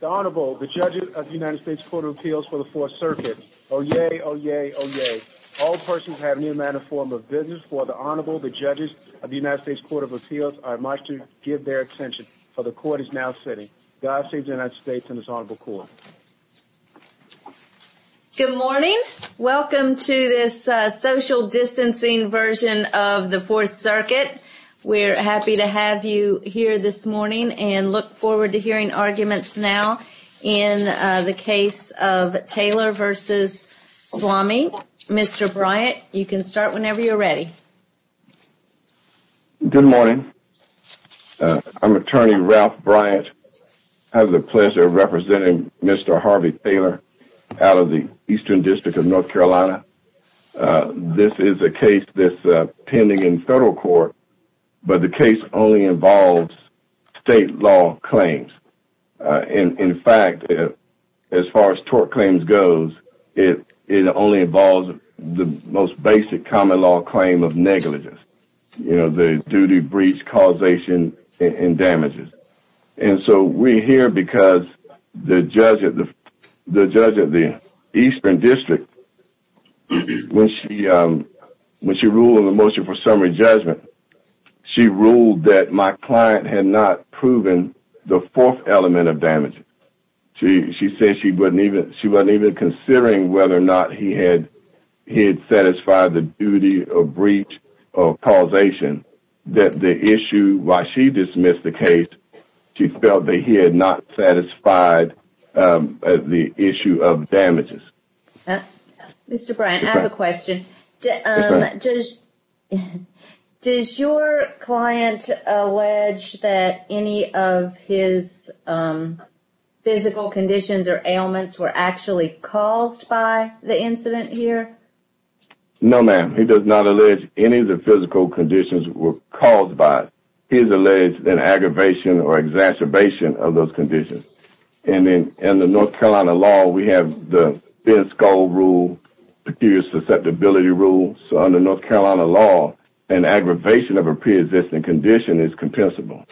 The Honorable, the Judges of the United States Court of Appeals for the 4th Circuit, Oyez, Oyez, Oyez. All persons have an uniform of business. For the Honorable, the Judges of the United States Court of Appeals, I must give their attention, for the Court is now sitting. God save the United States and His Honorable Court. Good morning. Welcome to this social distancing version of the 4th Circuit. We're happy to have you here this morning and look forward to hearing arguments now in the case of Taylor v. Swami. Mr. Bryant, you can start whenever you're ready. Good morning. I'm Attorney Ralph Bryant. I have the pleasure of representing Mr. Harvey Taylor out of the Eastern District of North Carolina. This is a case that's pending in court. It only involves state law claims. In fact, as far as tort claims goes, it only involves the most basic common law claim of negligence. You know, the duty, breach, causation and damages. And so we're here because the judge at the Eastern District, when she ruled on the motion for summary judgment, she ruled that my client had not proven the fourth element of damages. She said she wasn't even considering whether or not he had satisfied the duty of breach or causation. That the issue, while she dismissed the case, she felt that he had not satisfied the issue of damages. Mr. Bryant, I have a question. Does your client allege that any of his physical conditions or ailments were actually caused by the incident here? No, ma'am. He does not allege any of the physical conditions were caused by it. He has alleged an aggravation or exacerbation of those conditions. In the North Carolina law, we have the thin skull rule, peculiar susceptibility rule. So under North Carolina law, an aggravation of a pre-existing condition is compensable.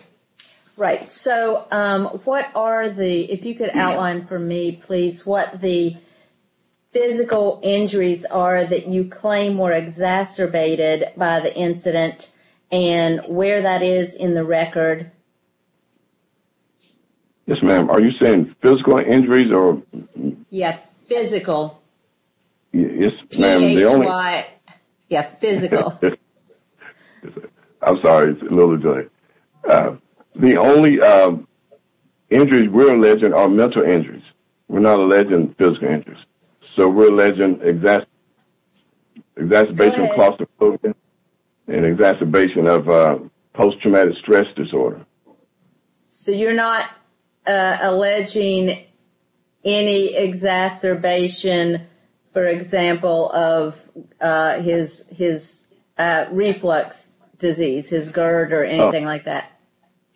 Right. So, what are the, if you could outline for me, please, what the physical injuries are that you claim were exacerbated by the incident and where that is in the record? Yes, ma'am. Are you saying physical injuries or? Yeah, physical. Yes, ma'am. P-H-Y. Yeah, physical. I'm sorry. It's a little delay. The only injuries we're alleging are mental injuries. We're not alleging physical injuries. So we're alleging exacerbation of claustrophobia and exacerbation of post-traumatic stress disorder. So you're not alleging any exacerbation, for example, of his reflux disease, his GERD or anything like that?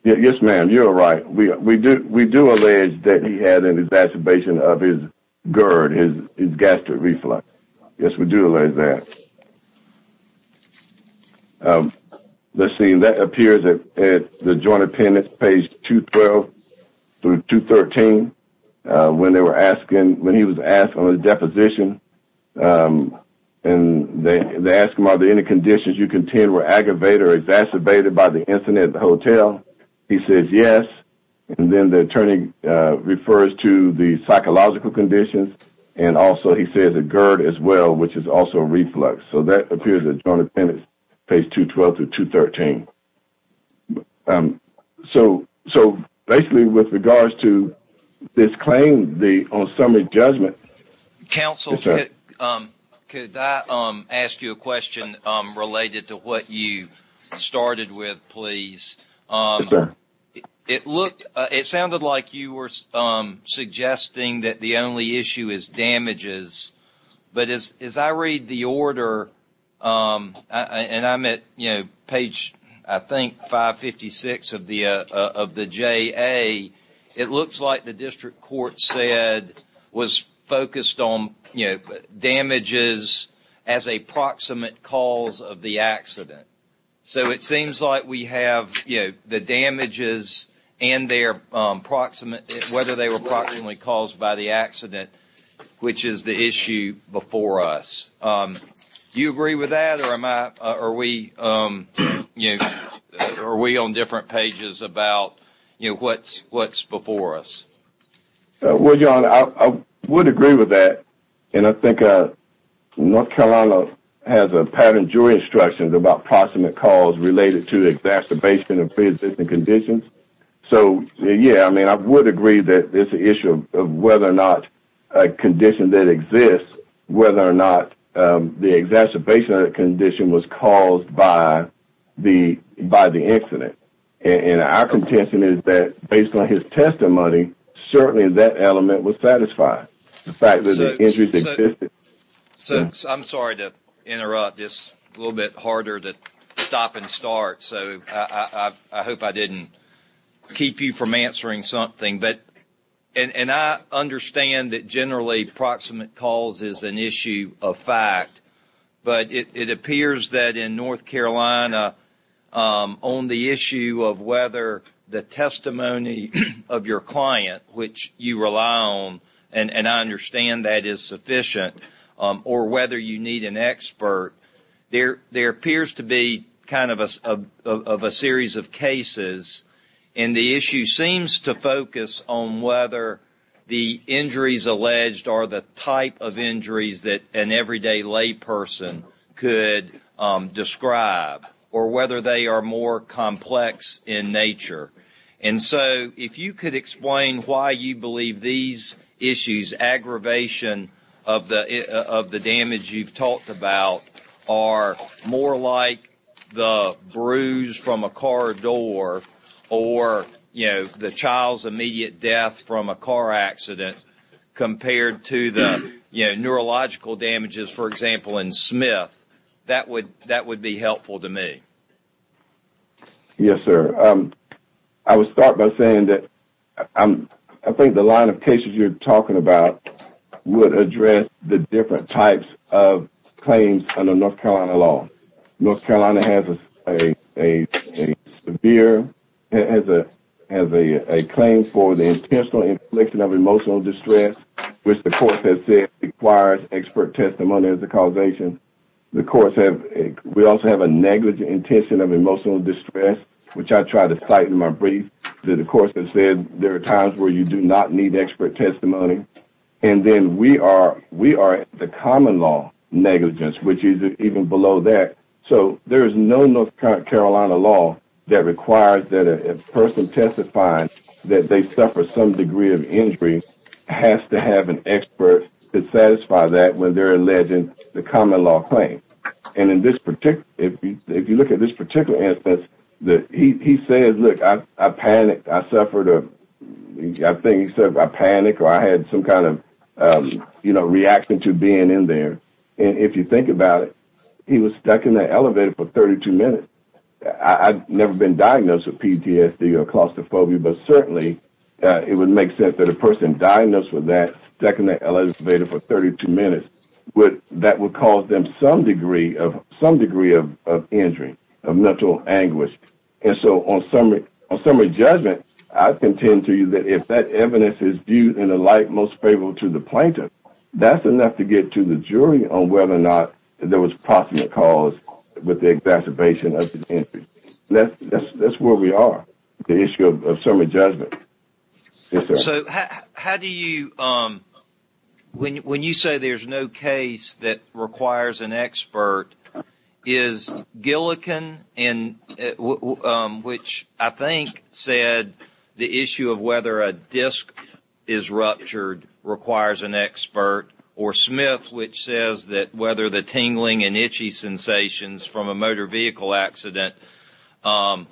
Yes, ma'am. You're right. We do allege that he had an exacerbation of his GERD, his gastric joint appendix, page 212 through 213, when they were asking, when he was asked on a deposition and they asked him, are there any conditions you contend were aggravated or exacerbated by the incident at the hotel? He says, yes. And then the attorney refers to the psychological conditions and also he says a GERD as well, which is also reflux. So that appears at joint 212 to 213. So basically, with regards to this claim, on summary judgment... Counsel, could I ask you a question related to what you started with, please? Yes, sir. It sounded like you were suggesting that the only issue is damages, but as I read the order and I'm at page, I think, 556 of the JA, it looks like the district court said was focused on damages as a proximate cause of the accident. So it seems like we have the damages and whether they were proximately caused by the accident, which is the issue before us. Do you agree with that or are we on different pages about what's before us? Well, John, I would agree with that. And I think North Carolina has a patent jury instruction about proximate cause related to exacerbation of pre-existing conditions. So, yeah, I mean, I would agree that there's an issue of whether or not a condition that exists, whether or not the exacerbation of the condition was caused by the accident. And our contention is that, based on his testimony, certainly that element was satisfied, the fact that the injuries existed. So I'm sorry to interrupt. It's a little bit harder to stop and start. So I hope I didn't keep you from answering something. And I understand that generally proximate cause is an issue of fact. But it appears that in North Carolina, on the issue of whether the testimony of your client, which you rely on, and I understand that is sufficient, or whether you need an expert, there appears to be kind of a series of cases. And the issue seems to focus on whether the injuries alleged are the type of injuries that an everyday lay person could describe, or whether they are more complex in nature. And so if you could explain why you believe these issues, aggravation of the damage you've talked about, are more like the bruise from a car door, or the child's immediate death from a car accident, compared to the neurological damages, for example, in Smith, that would be helpful to me. Yes, sir. I would start by saying that I think the line of cases you're talking about would North Carolina has a claim for the intentional infliction of emotional distress, which the court has said requires expert testimony as a causation. We also have a negligent intention of emotional distress, which I try to cite in my brief. The court has said there are times where you do not need expert testimony. And then we are the common law negligence, which is even below that. So there is no North Carolina law that requires that a person testifying that they suffered some degree of injury has to have an expert to satisfy that when they're alleging the common law claim. And if you look at this particular instance, he says, look, I panicked, I suffered, I think he said, I panicked, or I had some kind of reaction to being in there. And if you think about it, he was stuck in the elevator for 32 minutes. I've never been diagnosed with PTSD or claustrophobia, but certainly it would make sense that a person diagnosed with that, stuck in the elevator for 32 minutes, that would cause them some degree of injury, of mental anguish. And so on summary judgment, I contend to you that if that evidence is viewed in a light most favorable to the plaintiff, that's enough to get to the jury on whether or not there was possible cause with the exacerbation of the injury. That's where we are, the issue of summary judgment. So how do you, when you say there's no case that requires an expert, is Gilligan, which I think said the issue of whether a disc is ruptured requires an expert, or Smith, which says that whether the tingling and itchy sensations from a motor vehicle accident are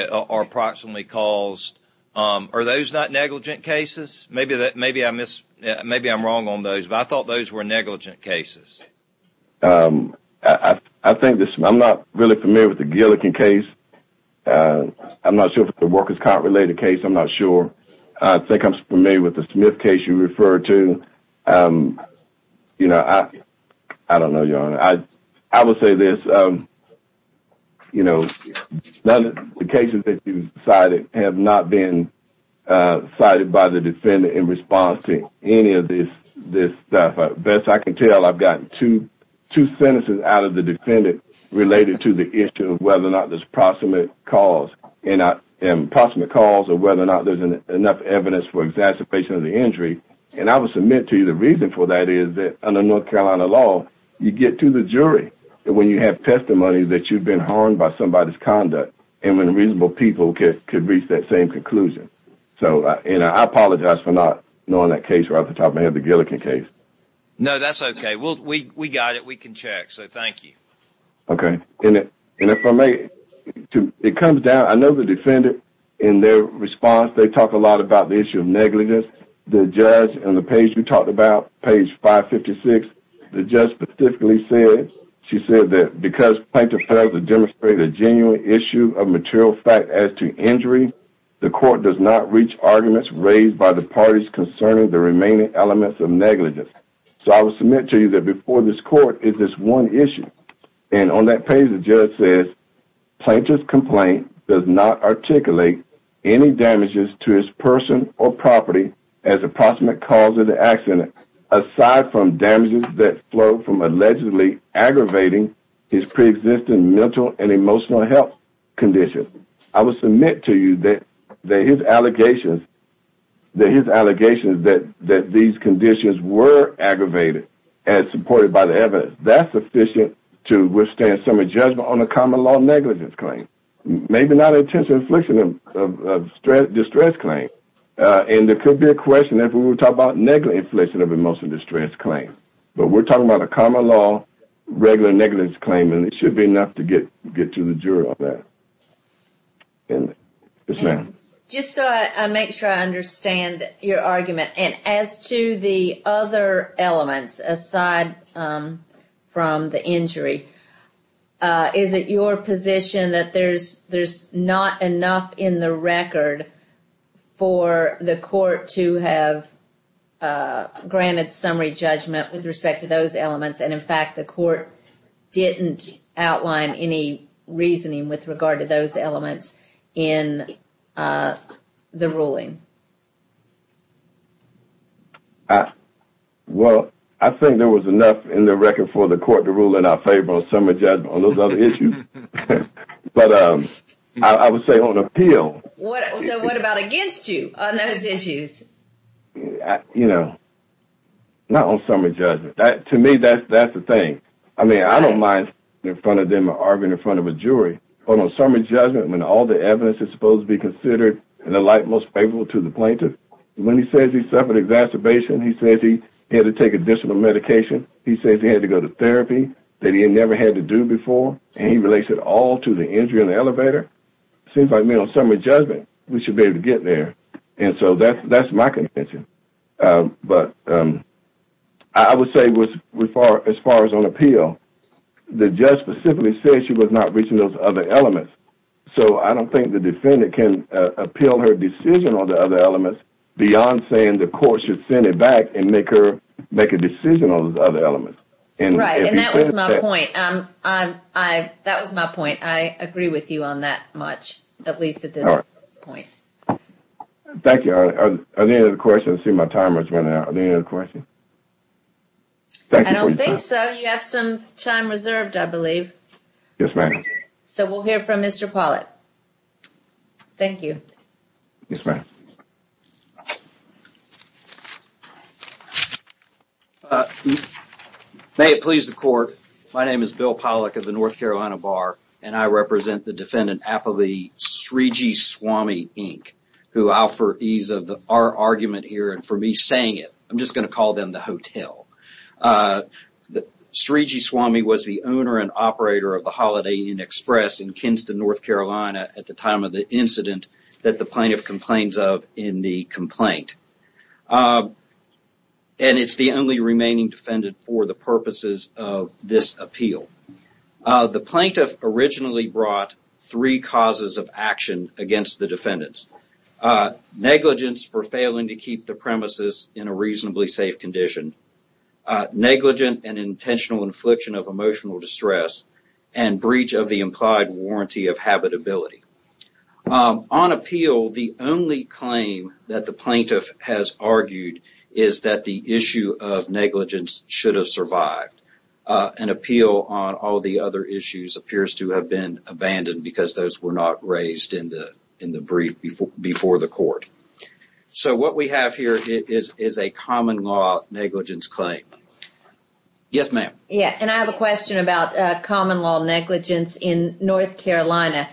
approximately caused, are those not negligent cases? Maybe I'm wrong on those, but I thought those were negligent cases. I think this, I'm not really familiar with the Gilligan case. I'm not sure if the workers caught related case, I'm not sure. I think I'm familiar with the Smith case you referred to. You know, I don't know your honor. I would say this, you know, the cases that you cited have not been cited by the defendant in response to any of this stuff. Best I can tell, I've gotten two sentences out of the defendant related to the issue of whether or not there's possible cause, and possible cause of whether or not there's enough evidence for exacerbation of the injury. And I will submit to you the reason for that is that under North Carolina law, you get to the jury when you have testimony that you've been harmed by somebody's conduct, and when reasonable people could reach that same conclusion. So, you know, I apologize for not knowing that case right off the top of my head, the Gilligan case. No, that's okay. We got it. We can check. So, thank you. Okay. And if I may, it comes down, I know the defendant in their response, they talk a lot about the issue of negligence. The judge on the page you talked about, page 556, the judge specifically said, she said that because plaintiff failed to demonstrate a genuine issue of material fact as to injury, the court does not reach arguments raised by the parties concerning the remaining elements of negligence. So, I will submit to you that before this court is this one issue. And on that page, the judge says, plaintiff's complaint does not articulate any damages to his person or property as approximate cause of the accident, aside from damages that from allegedly aggravating his pre-existing mental and emotional health condition. I will submit to you that his allegations, that his allegations that these conditions were aggravated as supported by the evidence, that's sufficient to withstand summary judgment on a common law negligence claim. Maybe not intentional infliction of distress claim. And there could be a question if we were talking about negligent infliction of emotional distress claim. But we're talking about a common law, regular negligence claim, and it should be enough to get to the jury on that. And, yes ma'am. Just so I make sure I understand your argument, and as to the other elements aside from the injury, is it your position that there's not enough in the record for the court to have granted summary judgment with respect to those elements, and in fact the court didn't outline any reasoning with regard to those elements in the ruling? Well, I think there was enough in the record for the court to rule in our favor on summary judgment on those other issues. But I would say on appeal. So what about against you on those issues? You know, not on summary judgment. That, to me, that's the thing. I mean, I don't mind in front of them arguing in front of a jury, but on summary judgment when all the evidence is supposed to be considered in the light most favorable to the plaintiff, when he says he suffered exacerbation, he says he had to take additional medication, he says he had to go to therapy that he had never had to do before, and he relates it all to the injury in the elevator, it seems like, on summary judgment, we should be able to get there. And so that's my contention. But I would say as far as on appeal, the judge specifically said she was not reaching those other elements. So I don't think the defendant can appeal her decision on the other elements beyond saying the court should send it back and make a decision on those other elements. Right, and that was my point. That was my point. I agree with you on that much, at least at this point. Thank you. Any other questions? I see my time has run out. Any other questions? I don't think so. You have some time reserved, I believe. Yes, ma'am. So we'll hear from Mr. Pollitt. Thank you. Yes, ma'am. May it please the court, my name is Bill Pollitt of the North Carolina Bar, and I represent the defendant Apolli Srijiswami, Inc., who, for ease of our argument here and for me saying it, I'm just going to call them the hotel. Srijiswami was the owner and operator of the Holiday Inn Express in Kinston, North Carolina, at the time of the incident that the this appeal. The plaintiff originally brought three causes of action against the defendants. Negligence for failing to keep the premises in a reasonably safe condition, negligent and intentional infliction of emotional distress, and breach of the implied warranty of habitability. On appeal, the only claim that the plaintiff has argued is that the issue of negligence should have survived. An appeal on all the other issues appears to have been abandoned because those were not raised in the brief before the court. So what we have here is a common law negligence claim. Yes, ma'am. Yeah, and I have a question about common law negligence in North Carolina.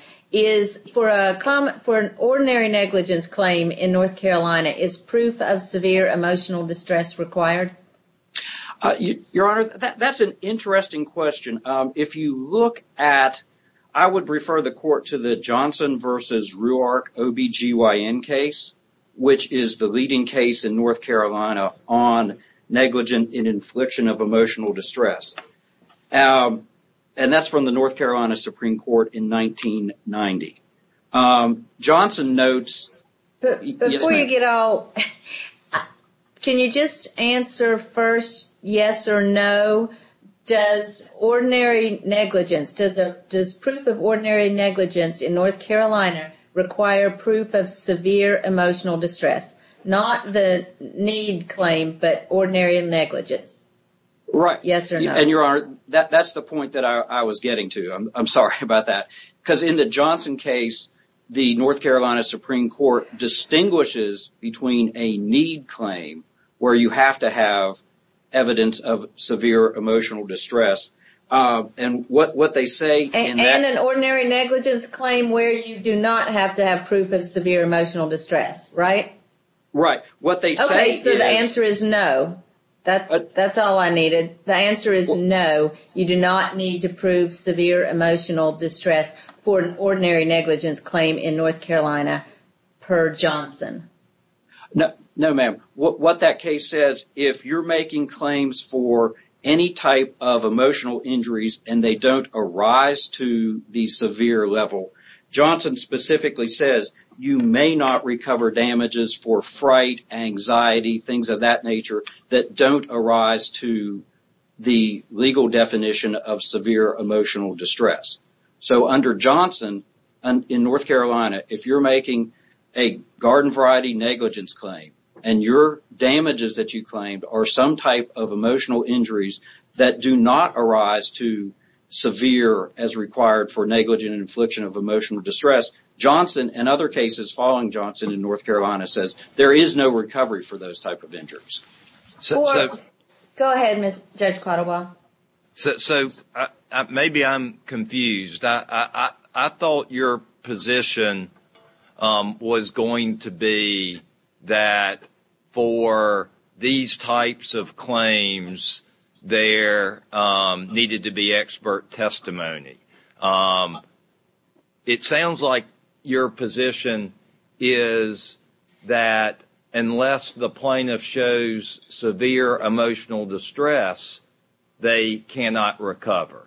For an ordinary negligence claim in North Carolina, is proof of severe emotional distress required? Your Honor, that's an interesting question. If you look at, I would refer the court to the Johnson v. Rewark OBGYN case, which is the leading case in North Carolina on negligent and infliction of emotional distress. And that's from the North Carolina Supreme Court in 1990. Before you get all, can you just answer first, yes or no? Does ordinary negligence, does proof of ordinary negligence in North Carolina require proof of severe emotional distress? Not the need claim, but ordinary negligence. Yes or no? Right. And Your Honor, that's the point that I was getting to. I'm sorry about that. Because in the Johnson case, the North Carolina Supreme Court distinguishes between a need claim where you have to have evidence of severe emotional distress. And what they say in that- And an ordinary negligence claim where you do not have to have proof of severe emotional distress, right? Right. What they say- Okay, so the answer is no. That's all I needed. The answer is no. You do not need to prove severe emotional distress for an ordinary negligence claim in North Carolina per Johnson. No, ma'am. What that case says, if you're making claims for any type of emotional injuries and they don't arise to the severe level, Johnson specifically says you may not recover damages for fright, anxiety, things of that nature that don't arise to the legal definition of severe emotional distress. So under Johnson in North Carolina, if you're making a garden variety negligence claim and your damages that you claimed are some type of emotional injuries that do not arise to severe as required for negligent infliction of emotional distress, Johnson and other cases following Johnson in North Carolina says there is no recovery for those type of injuries. Go ahead, Judge Quattlebaugh. So maybe I'm confused. I thought your position was going to be that for these types of claims, there needed to be expert testimony. It sounds like your position is that unless the plaintiff shows severe emotional distress, they cannot recover.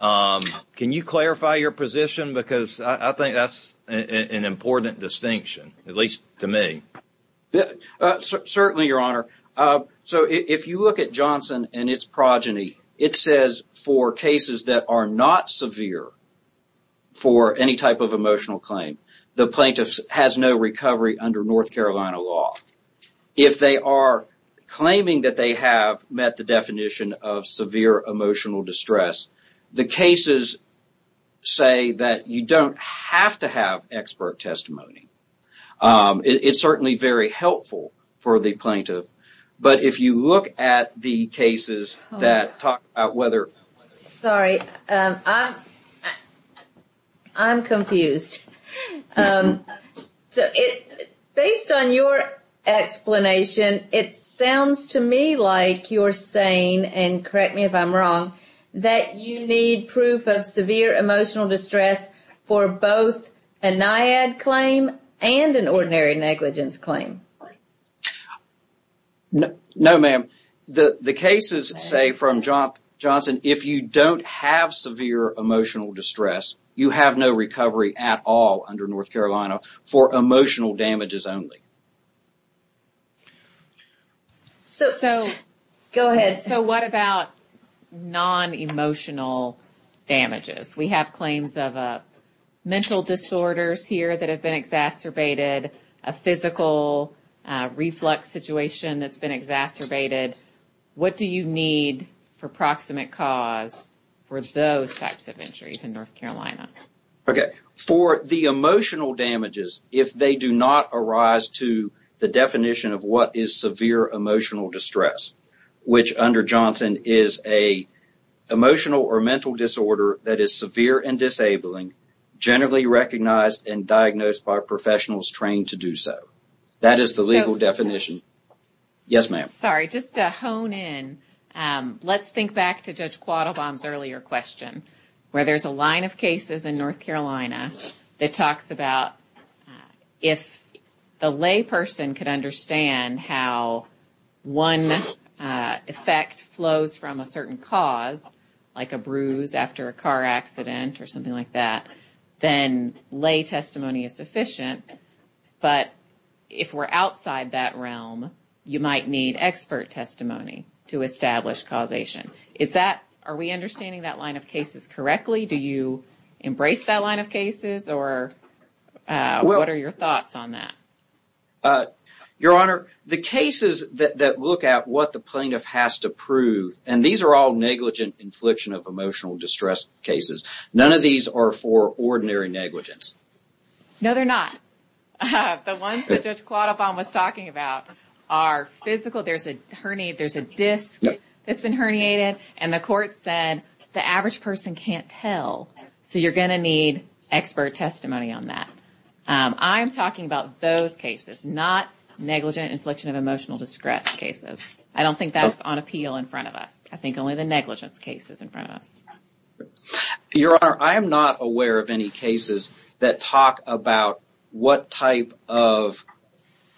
Can you clarify your position? Because I think that's an important distinction, at least to me. Certainly, Your Honor. So if you look at Johnson and its progeny, it says for cases that are not severe for any type of emotional claim, the plaintiff has no recovery under North Carolina law. If they are claiming that they have met the definition of severe emotional distress, the cases say that you don't have to have expert testimony. It's certainly very helpful for the plaintiff, but if you look at the cases that talk about whether... I'm sorry. I'm confused. Based on your explanation, it sounds to me like you're saying, and correct me if I'm wrong, that you need proof of severe emotional distress for both a NIAID claim and an ordinary negligence claim. No, ma'am. The cases say from Johnson, if you don't have severe emotional distress, you have no recovery at all under North Carolina for emotional damages only. So what about non-emotional damages? We have claims of mental disorders here that have been reflux situations that have been exacerbated. What do you need for proximate cause for those types of injuries in North Carolina? For the emotional damages, if they do not arise to the definition of what is severe emotional distress, which under Johnson is an emotional or mental disorder that is severe and disabling, generally recognized and diagnosed by professionals trained to do so. That is the legal definition. Yes, ma'am. Sorry, just to hone in, let's think back to Judge Quattlebaum's earlier question, where there's a line of cases in North Carolina that talks about if the lay person could understand how one effect flows from a certain cause, like a bruise after a car accident or something like that, then lay testimony is sufficient. But if we're outside that realm, you might need expert testimony to establish causation. Are we understanding that line of cases correctly? Do you embrace that line of cases or what are your thoughts on that? Your Honor, the cases that look at what the plaintiff has to prove, and these are all negligent infliction of emotional distress cases, none of these are ordinary negligence? No, they're not. The ones that Judge Quattlebaum was talking about are physical. There's a disc that's been herniated and the court said the average person can't tell, so you're going to need expert testimony on that. I'm talking about those cases, not negligent infliction of emotional distress cases. I don't think that's on appeal in front of us. I think only the negligence case is in front of us. Your Honor, I am not aware of any cases that talk about what type of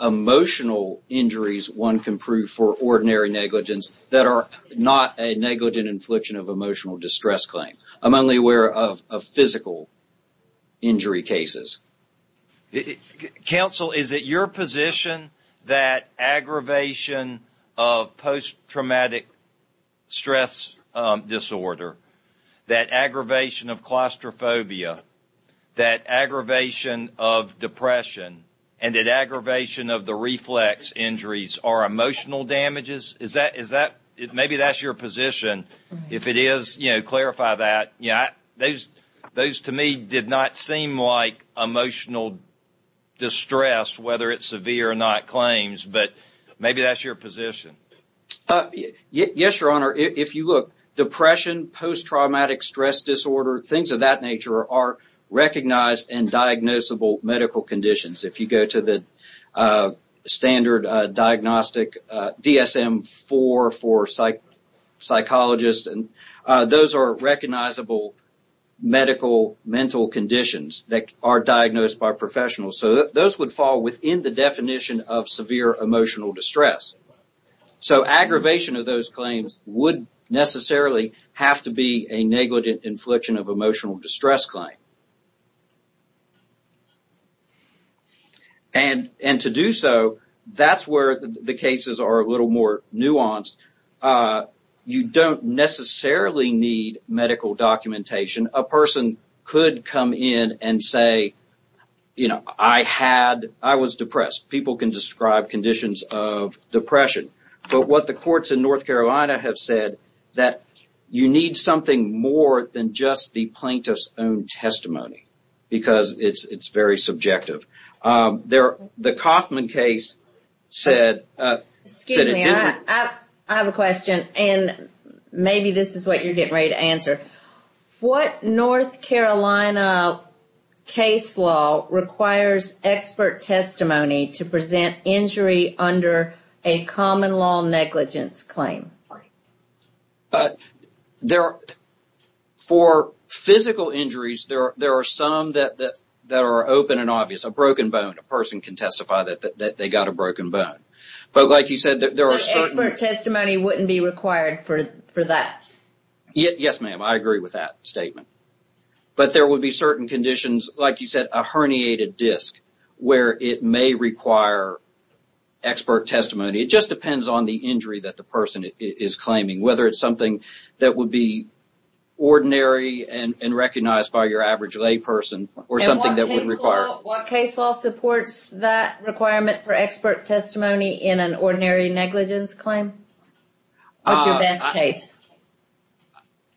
emotional injuries one can prove for ordinary negligence that are not a negligent infliction of emotional distress claim. I'm only aware of physical injury cases. Counsel, is it your position that aggravation of post-traumatic stress disorder, that aggravation of claustrophobia, that aggravation of depression, and that aggravation of the reflex injuries are emotional damages? Maybe that's your position. If it is, clarify that. Those, to me, did not seem like emotional distress, whether it's severe or not claims, but maybe that's your position. Yes, Your Honor. If you look, depression, post-traumatic stress disorder, things of that nature are recognized and those are recognizable medical mental conditions that are diagnosed by professionals. Those would fall within the definition of severe emotional distress. Aggravation of those claims would necessarily have to be a negligent infliction of emotional distress claim. To do so, that's where the cases are a little more nuanced. You don't necessarily need medical documentation. A person could come in and say, you know, I was depressed. People can describe conditions of depression, but what the courts in North Carolina have said that you need something more than just the plaintiff's own testimony because it's very subjective. The Kauffman case said... Excuse me, I have a question and maybe this is what you're getting ready to answer. What North Carolina case law requires expert testimony to present injury under a common law negligence claim? For physical injuries, there are some that are open and obvious. A broken bone. A person can testify that they got a broken bone, but like you said, there are certain... Expert testimony wouldn't be required for that. Yes, ma'am. I agree with that statement, but there would be certain conditions, like you said, a herniated disc where it may require expert testimony. It just depends on the injury that the person is claiming. Whether it's something that would be ordinary and recognized by your average lay person or something that would require... What case law supports that requirement for expert testimony in an ordinary negligence claim? What's your best case?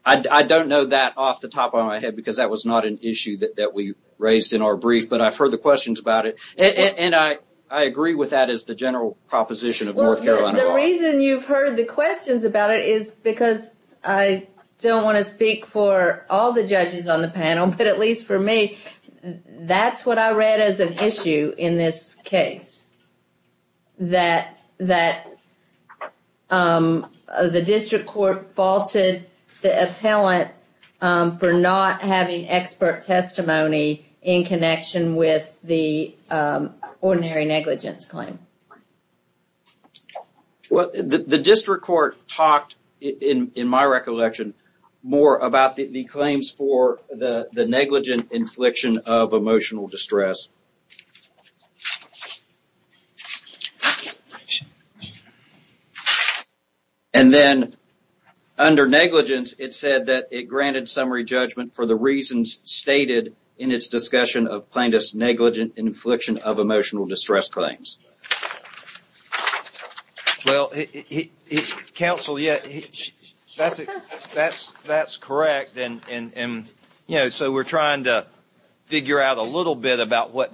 I don't know that off the top of my head because that was not an issue that we raised in our brief, but I've heard the questions about it. I agree with that as the general proposition of North Carolina law. The reason you've heard the questions about it is because I don't want to speak for all the judges on the panel, but at least for me, that's what I read as an issue in this case. That the district court faulted the appellant for not having expert testimony in connection with the ordinary negligence claim. The district court talked, in my recollection, more about the claims for the negligent infliction of emotional distress. And then, under negligence, it said that it granted summary judgment for the reasons stated in its discussion of plaintiff's negligent infliction of emotional distress claims. Well, counsel, that's correct. We're trying to figure out a little bit about what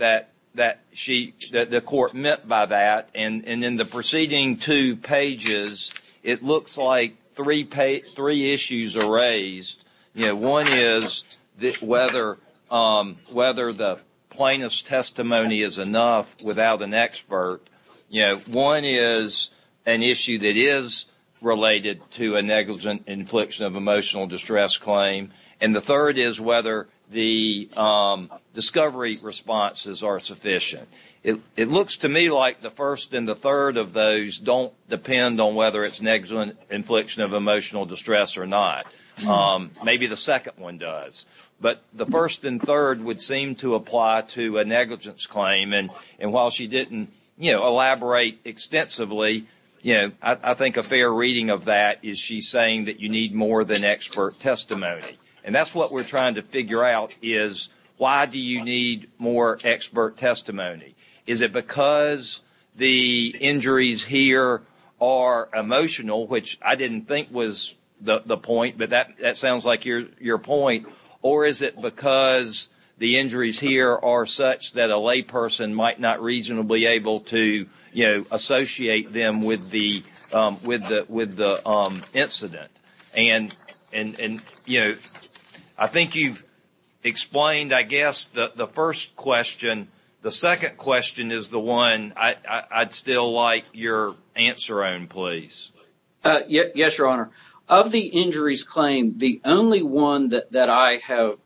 the court meant by that. In the preceding two pages, it looks like three issues are raised. One is whether the plaintiff's testimony is enough without an expert. One is an issue that is related to a negligent infliction of emotional distress claim. And the third is whether the responses are sufficient. It looks to me like the first and third of those don't depend on whether it's negligent infliction of emotional distress or not. Maybe the second one does. But the first and third would seem to apply to a negligence claim. And while she didn't elaborate extensively, I think a fair reading of that is she's saying that you need more than expert testimony. And that's what we're trying to figure out, is why do you need more expert testimony? Is it because the injuries here are emotional, which I didn't think was the point, but that sounds like your point, or is it because the injuries here are such that a layperson might not reasonably be able to associate them with the incident? And I think you've explained, I guess, the first question. The second question is the one I'd still like your answer on, please. Yes, Your Honor. Of the injuries claimed, the only one that I have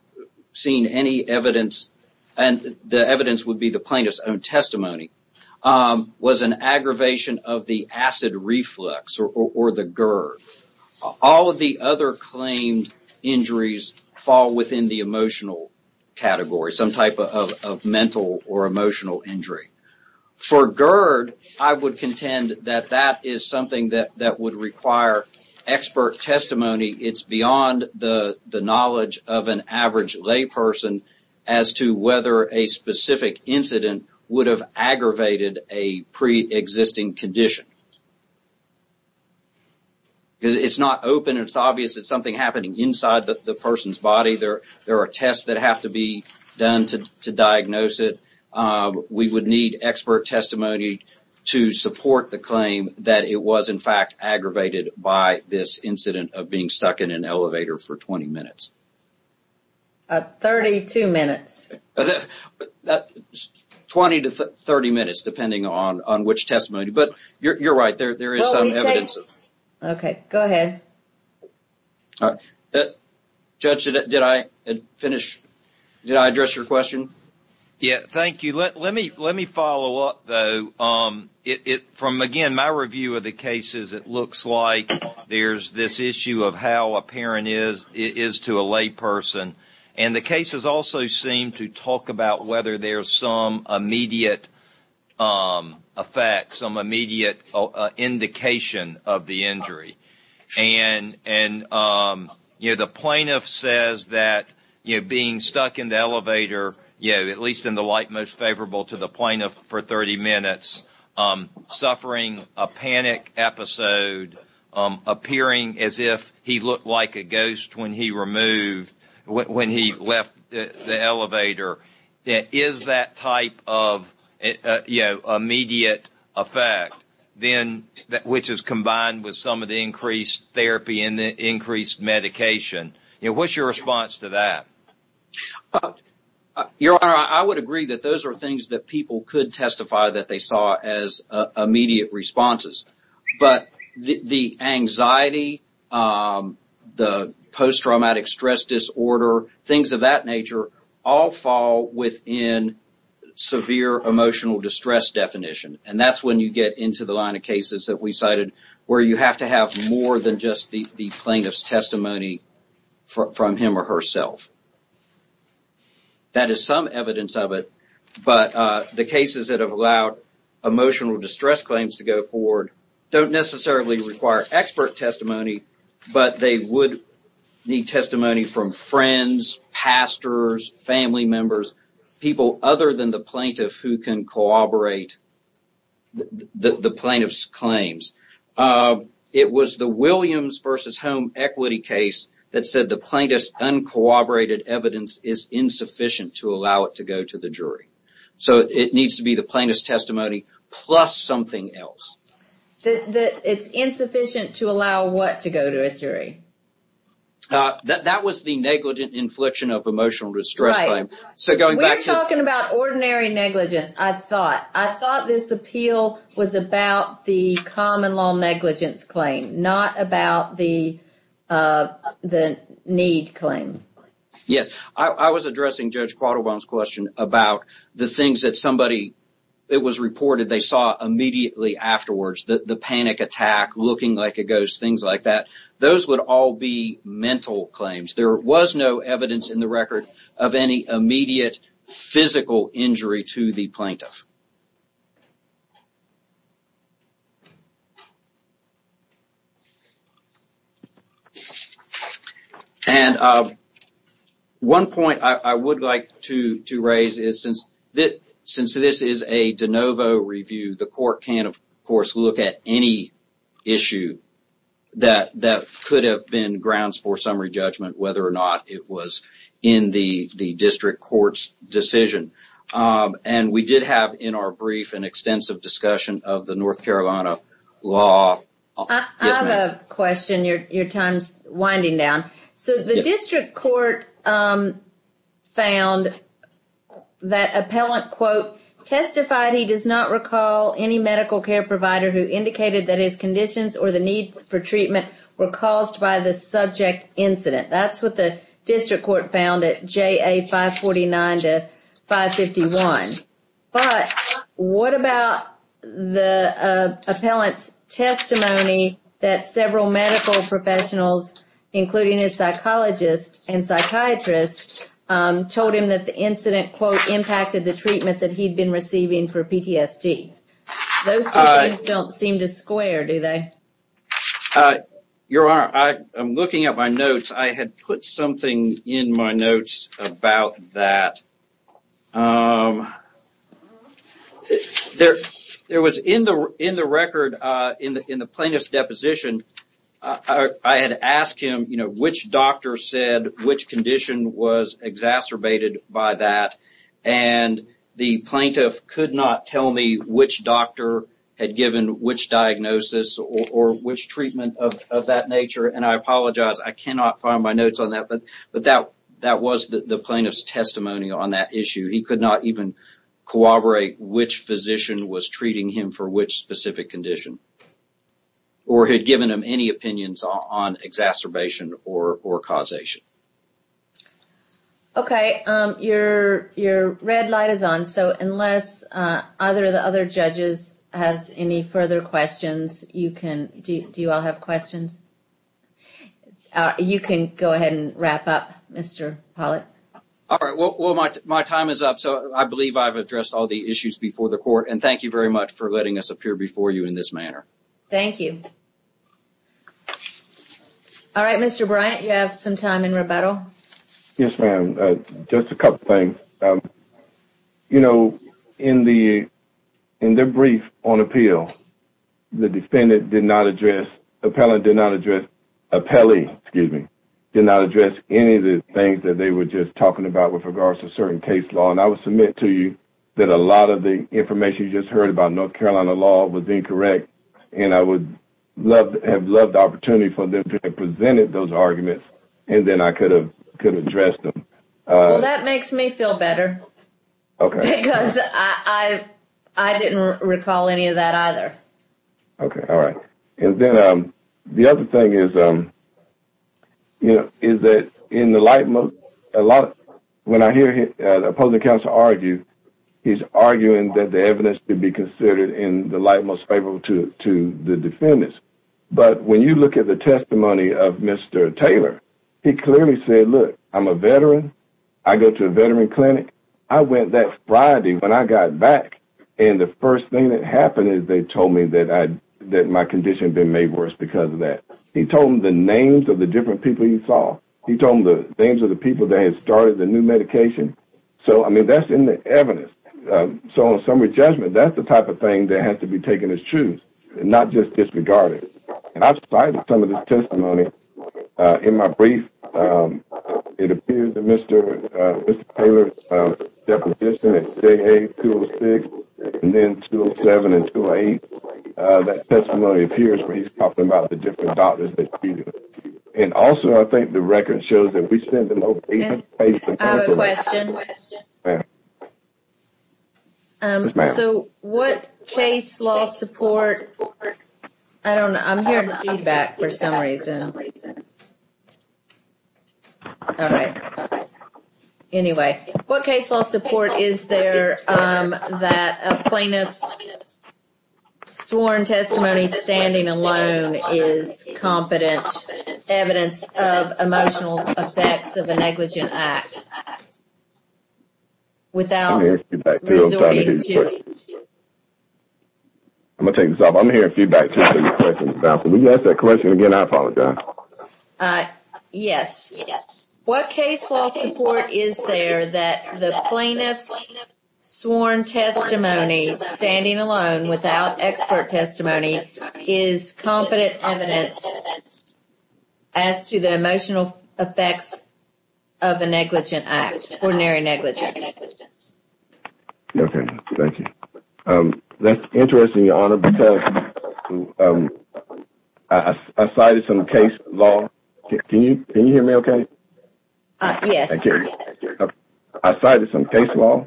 seen any evidence, and the evidence would be the plaintiff's own testimony, was an aggravation of the acid reflux or the GERD. All of the other claimed injuries fall within the emotional category, some type of mental or emotional injury. For GERD, I would contend that that is something that would require expert testimony. It's beyond the knowledge of an average layperson as to whether a specific incident would have aggravated a pre-existing condition. It's not open. It's obvious that something happened inside the person's body. There are tests that have to be done to diagnose it. We would need expert testimony to support the claim that it was, in fact, aggravated by this incident of being stuck in an elevator for 20 minutes. 32 minutes. 20 to 30 minutes, depending on which testimony. But you're right, there is some evidence. Okay, go ahead. Judge, did I address your question? Yeah, thank you. Let me follow up, though. From, again, my review of the cases, it looks like there's this issue of how apparent it is to a layperson. The cases also seem to talk about whether there's some immediate effect, some immediate indication of the injury. And the plaintiff says that being stuck in the elevator, at least in the light most favorable to the plaintiff for 30 minutes, suffering a panic episode, appearing as if he looked like a ghost when he left the elevator. Is that type of immediate effect, which is combined with the increased therapy and the increased medication? What's your response to that? Your Honor, I would agree that those are things that people could testify that they saw as immediate responses. But the anxiety, the post-traumatic stress disorder, things of that nature, all fall within severe emotional distress definition. And that's when you get into the line that we cited, where you have to have more than just the plaintiff's testimony from him or herself. That is some evidence of it, but the cases that have allowed emotional distress claims to go forward don't necessarily require expert testimony, but they would need testimony from friends, pastors, family members, people other than the plaintiff who can corroborate the plaintiff's claims. It was the Williams v. Home equity case that said the plaintiff's uncooperated evidence is insufficient to allow it to go to the jury. So, it needs to be the plaintiff's testimony plus something else. It's insufficient to allow what to go to a jury? That was the negligent infliction of emotional distress claim. Right. We're talking about ordinary negligence, I thought. I thought this appeal was about the common law negligence claim, not about the need claim. Yes. I was addressing Judge Quattlebaum's question about the things that somebody, it was reported they saw immediately afterwards. The panic attack, looking like a ghost, things like that. Those would all be mental claims. There was no evidence in the record of any immediate physical injury to the plaintiff. One point I would like to raise is since this is a de novo review, the court can, of course, look at any issue that could have been grounds for summary judgment, whether or not it was in the district court's decision. We did have in our brief an extensive discussion of the North Carolina law. I have a question. Your time is winding down. The district court found that indicated that his conditions or the need for treatment were caused by the subject incident. That's what the district court found at JA 549 to 551. But what about the appellant's testimony that several medical professionals, including his psychologist and psychiatrist, told him that the incident, quote, impacted the treatment that he'd been receiving for PTSD? Those two things don't seem to square, do they? Your Honor, I'm looking at my notes. I had put something in my notes about that. There was in the record, in the plaintiff's deposition, I had asked him which doctor said which condition was exacerbated by that. The plaintiff could not tell me which doctor had given which diagnosis or which treatment of that nature. I apologize. I cannot find my notes on that, but that was the plaintiff's testimony on that issue. He could not even corroborate which physician was treating him for which specific condition or had given him any opinions on causation. Your red light is on. Unless the other judges have any further questions, you can go ahead and wrap up, Mr. Pollitt. My time is up. I believe I've addressed all the issues before the court. Thank you very much for letting us appear before you in this manner. Thank you. All right, Mr. Bryant, you have some time in rebuttal. Yes, ma'am. Just a couple things. In the brief on appeal, the defendant did not address, the appellant did not address, the appellee, excuse me, did not address any of the things that they were just talking about with regards to certain case law. I would submit to you that a lot of the information you just heard about North Carolina law was incorrect, and I would have loved the opportunity for them to have presented those arguments, and then I could have addressed them. Well, that makes me feel better, because I didn't recall any of that either. Okay, all right. Then the other thing is that in the light most, when I hear the opposing counsel argue, he's arguing that the evidence should be considered in the light most favorable to the defendants, but when you look at the testimony of Mr. Taylor, he clearly said, look, I'm a veteran. I go to a veteran clinic. I went that Friday when I got back, and the first thing that happened is they told me that my condition had been made worse because of that. He told them the names of the different people he saw. He told them the names of the people that had started the new medication. So, I mean, that's in the evidence. So, in summary judgment, that's the type of thing that has to be taken as true, not just disregarded, and I've cited some of this testimony in my brief. It appears that Mr. Taylor's definition at day 8, 206, and then 207 and 208, that testimony appears where he's talking about the different doctors that treated him, and also I think the record shows that we send the location, place, and counsel. I have a question. Yes, ma'am. So, what case law support, I don't know. I'm hearing feedback for some reason. All right. Anyway, what case law support is there that a plaintiff's sworn testimony standing alone is competent evidence of emotional effects of a negligent act without resorting to? I'm going to take this off. I'm hearing feedback. Can you ask that question again? I apologize. Yes. What case law support is there that the plaintiff's sworn testimony standing alone without expert testimony is competent evidence as to the emotional effects of a negligent act, ordinary negligence? Okay. Thank you. That's interesting, Your Honor, because I cited some case law. Can you hear me okay? Yes. I cited some case law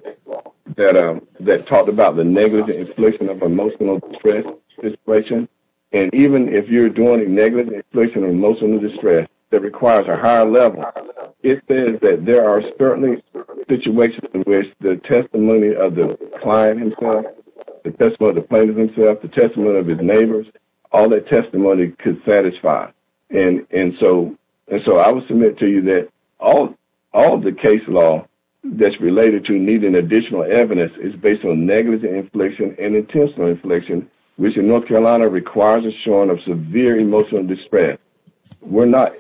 that talked about the negligent infliction of emotional stress, and even if you're doing a negligent infliction of emotional distress that requires a higher level, it says that there are certainly situations in which the testimony of the client himself, the testimony of the plaintiff himself, the testimony of his neighbors, all that testimony could satisfy. And so, I will submit to you that all the case law that's related to needing additional evidence is based on negligent infliction and intentional infliction, which in North Carolina requires a showing of severe emotional distress. We're not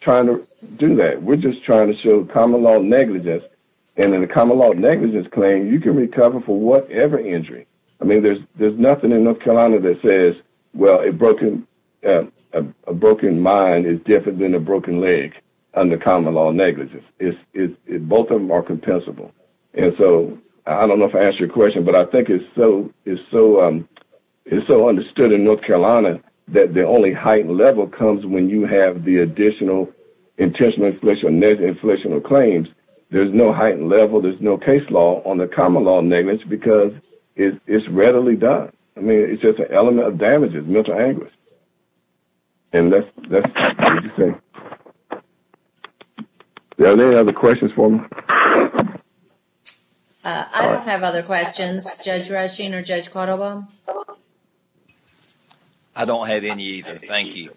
trying to do that. We're just trying to show common-law negligence, and in a common-law negligence claim, you can recover for whatever injury. I mean, there's nothing in North Carolina that says, well, a broken mind is different than a broken leg under common-law negligence. Both of them are compensable. And so, I don't know if I am so understood in North Carolina that the only heightened level comes when you have the additional intentional infliction of claims. There's no heightened level. There's no case law on the common-law negligence because it's readily done. I mean, it's just an element of damages, mental anguish. And that's all I can say. Are there any other questions for me? I don't have other questions, Judge Rushing or Judge Quattrobo. I don't have any either. Thank you.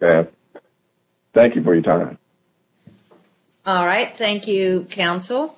Thank you for your time. All right. Thank you, counsel.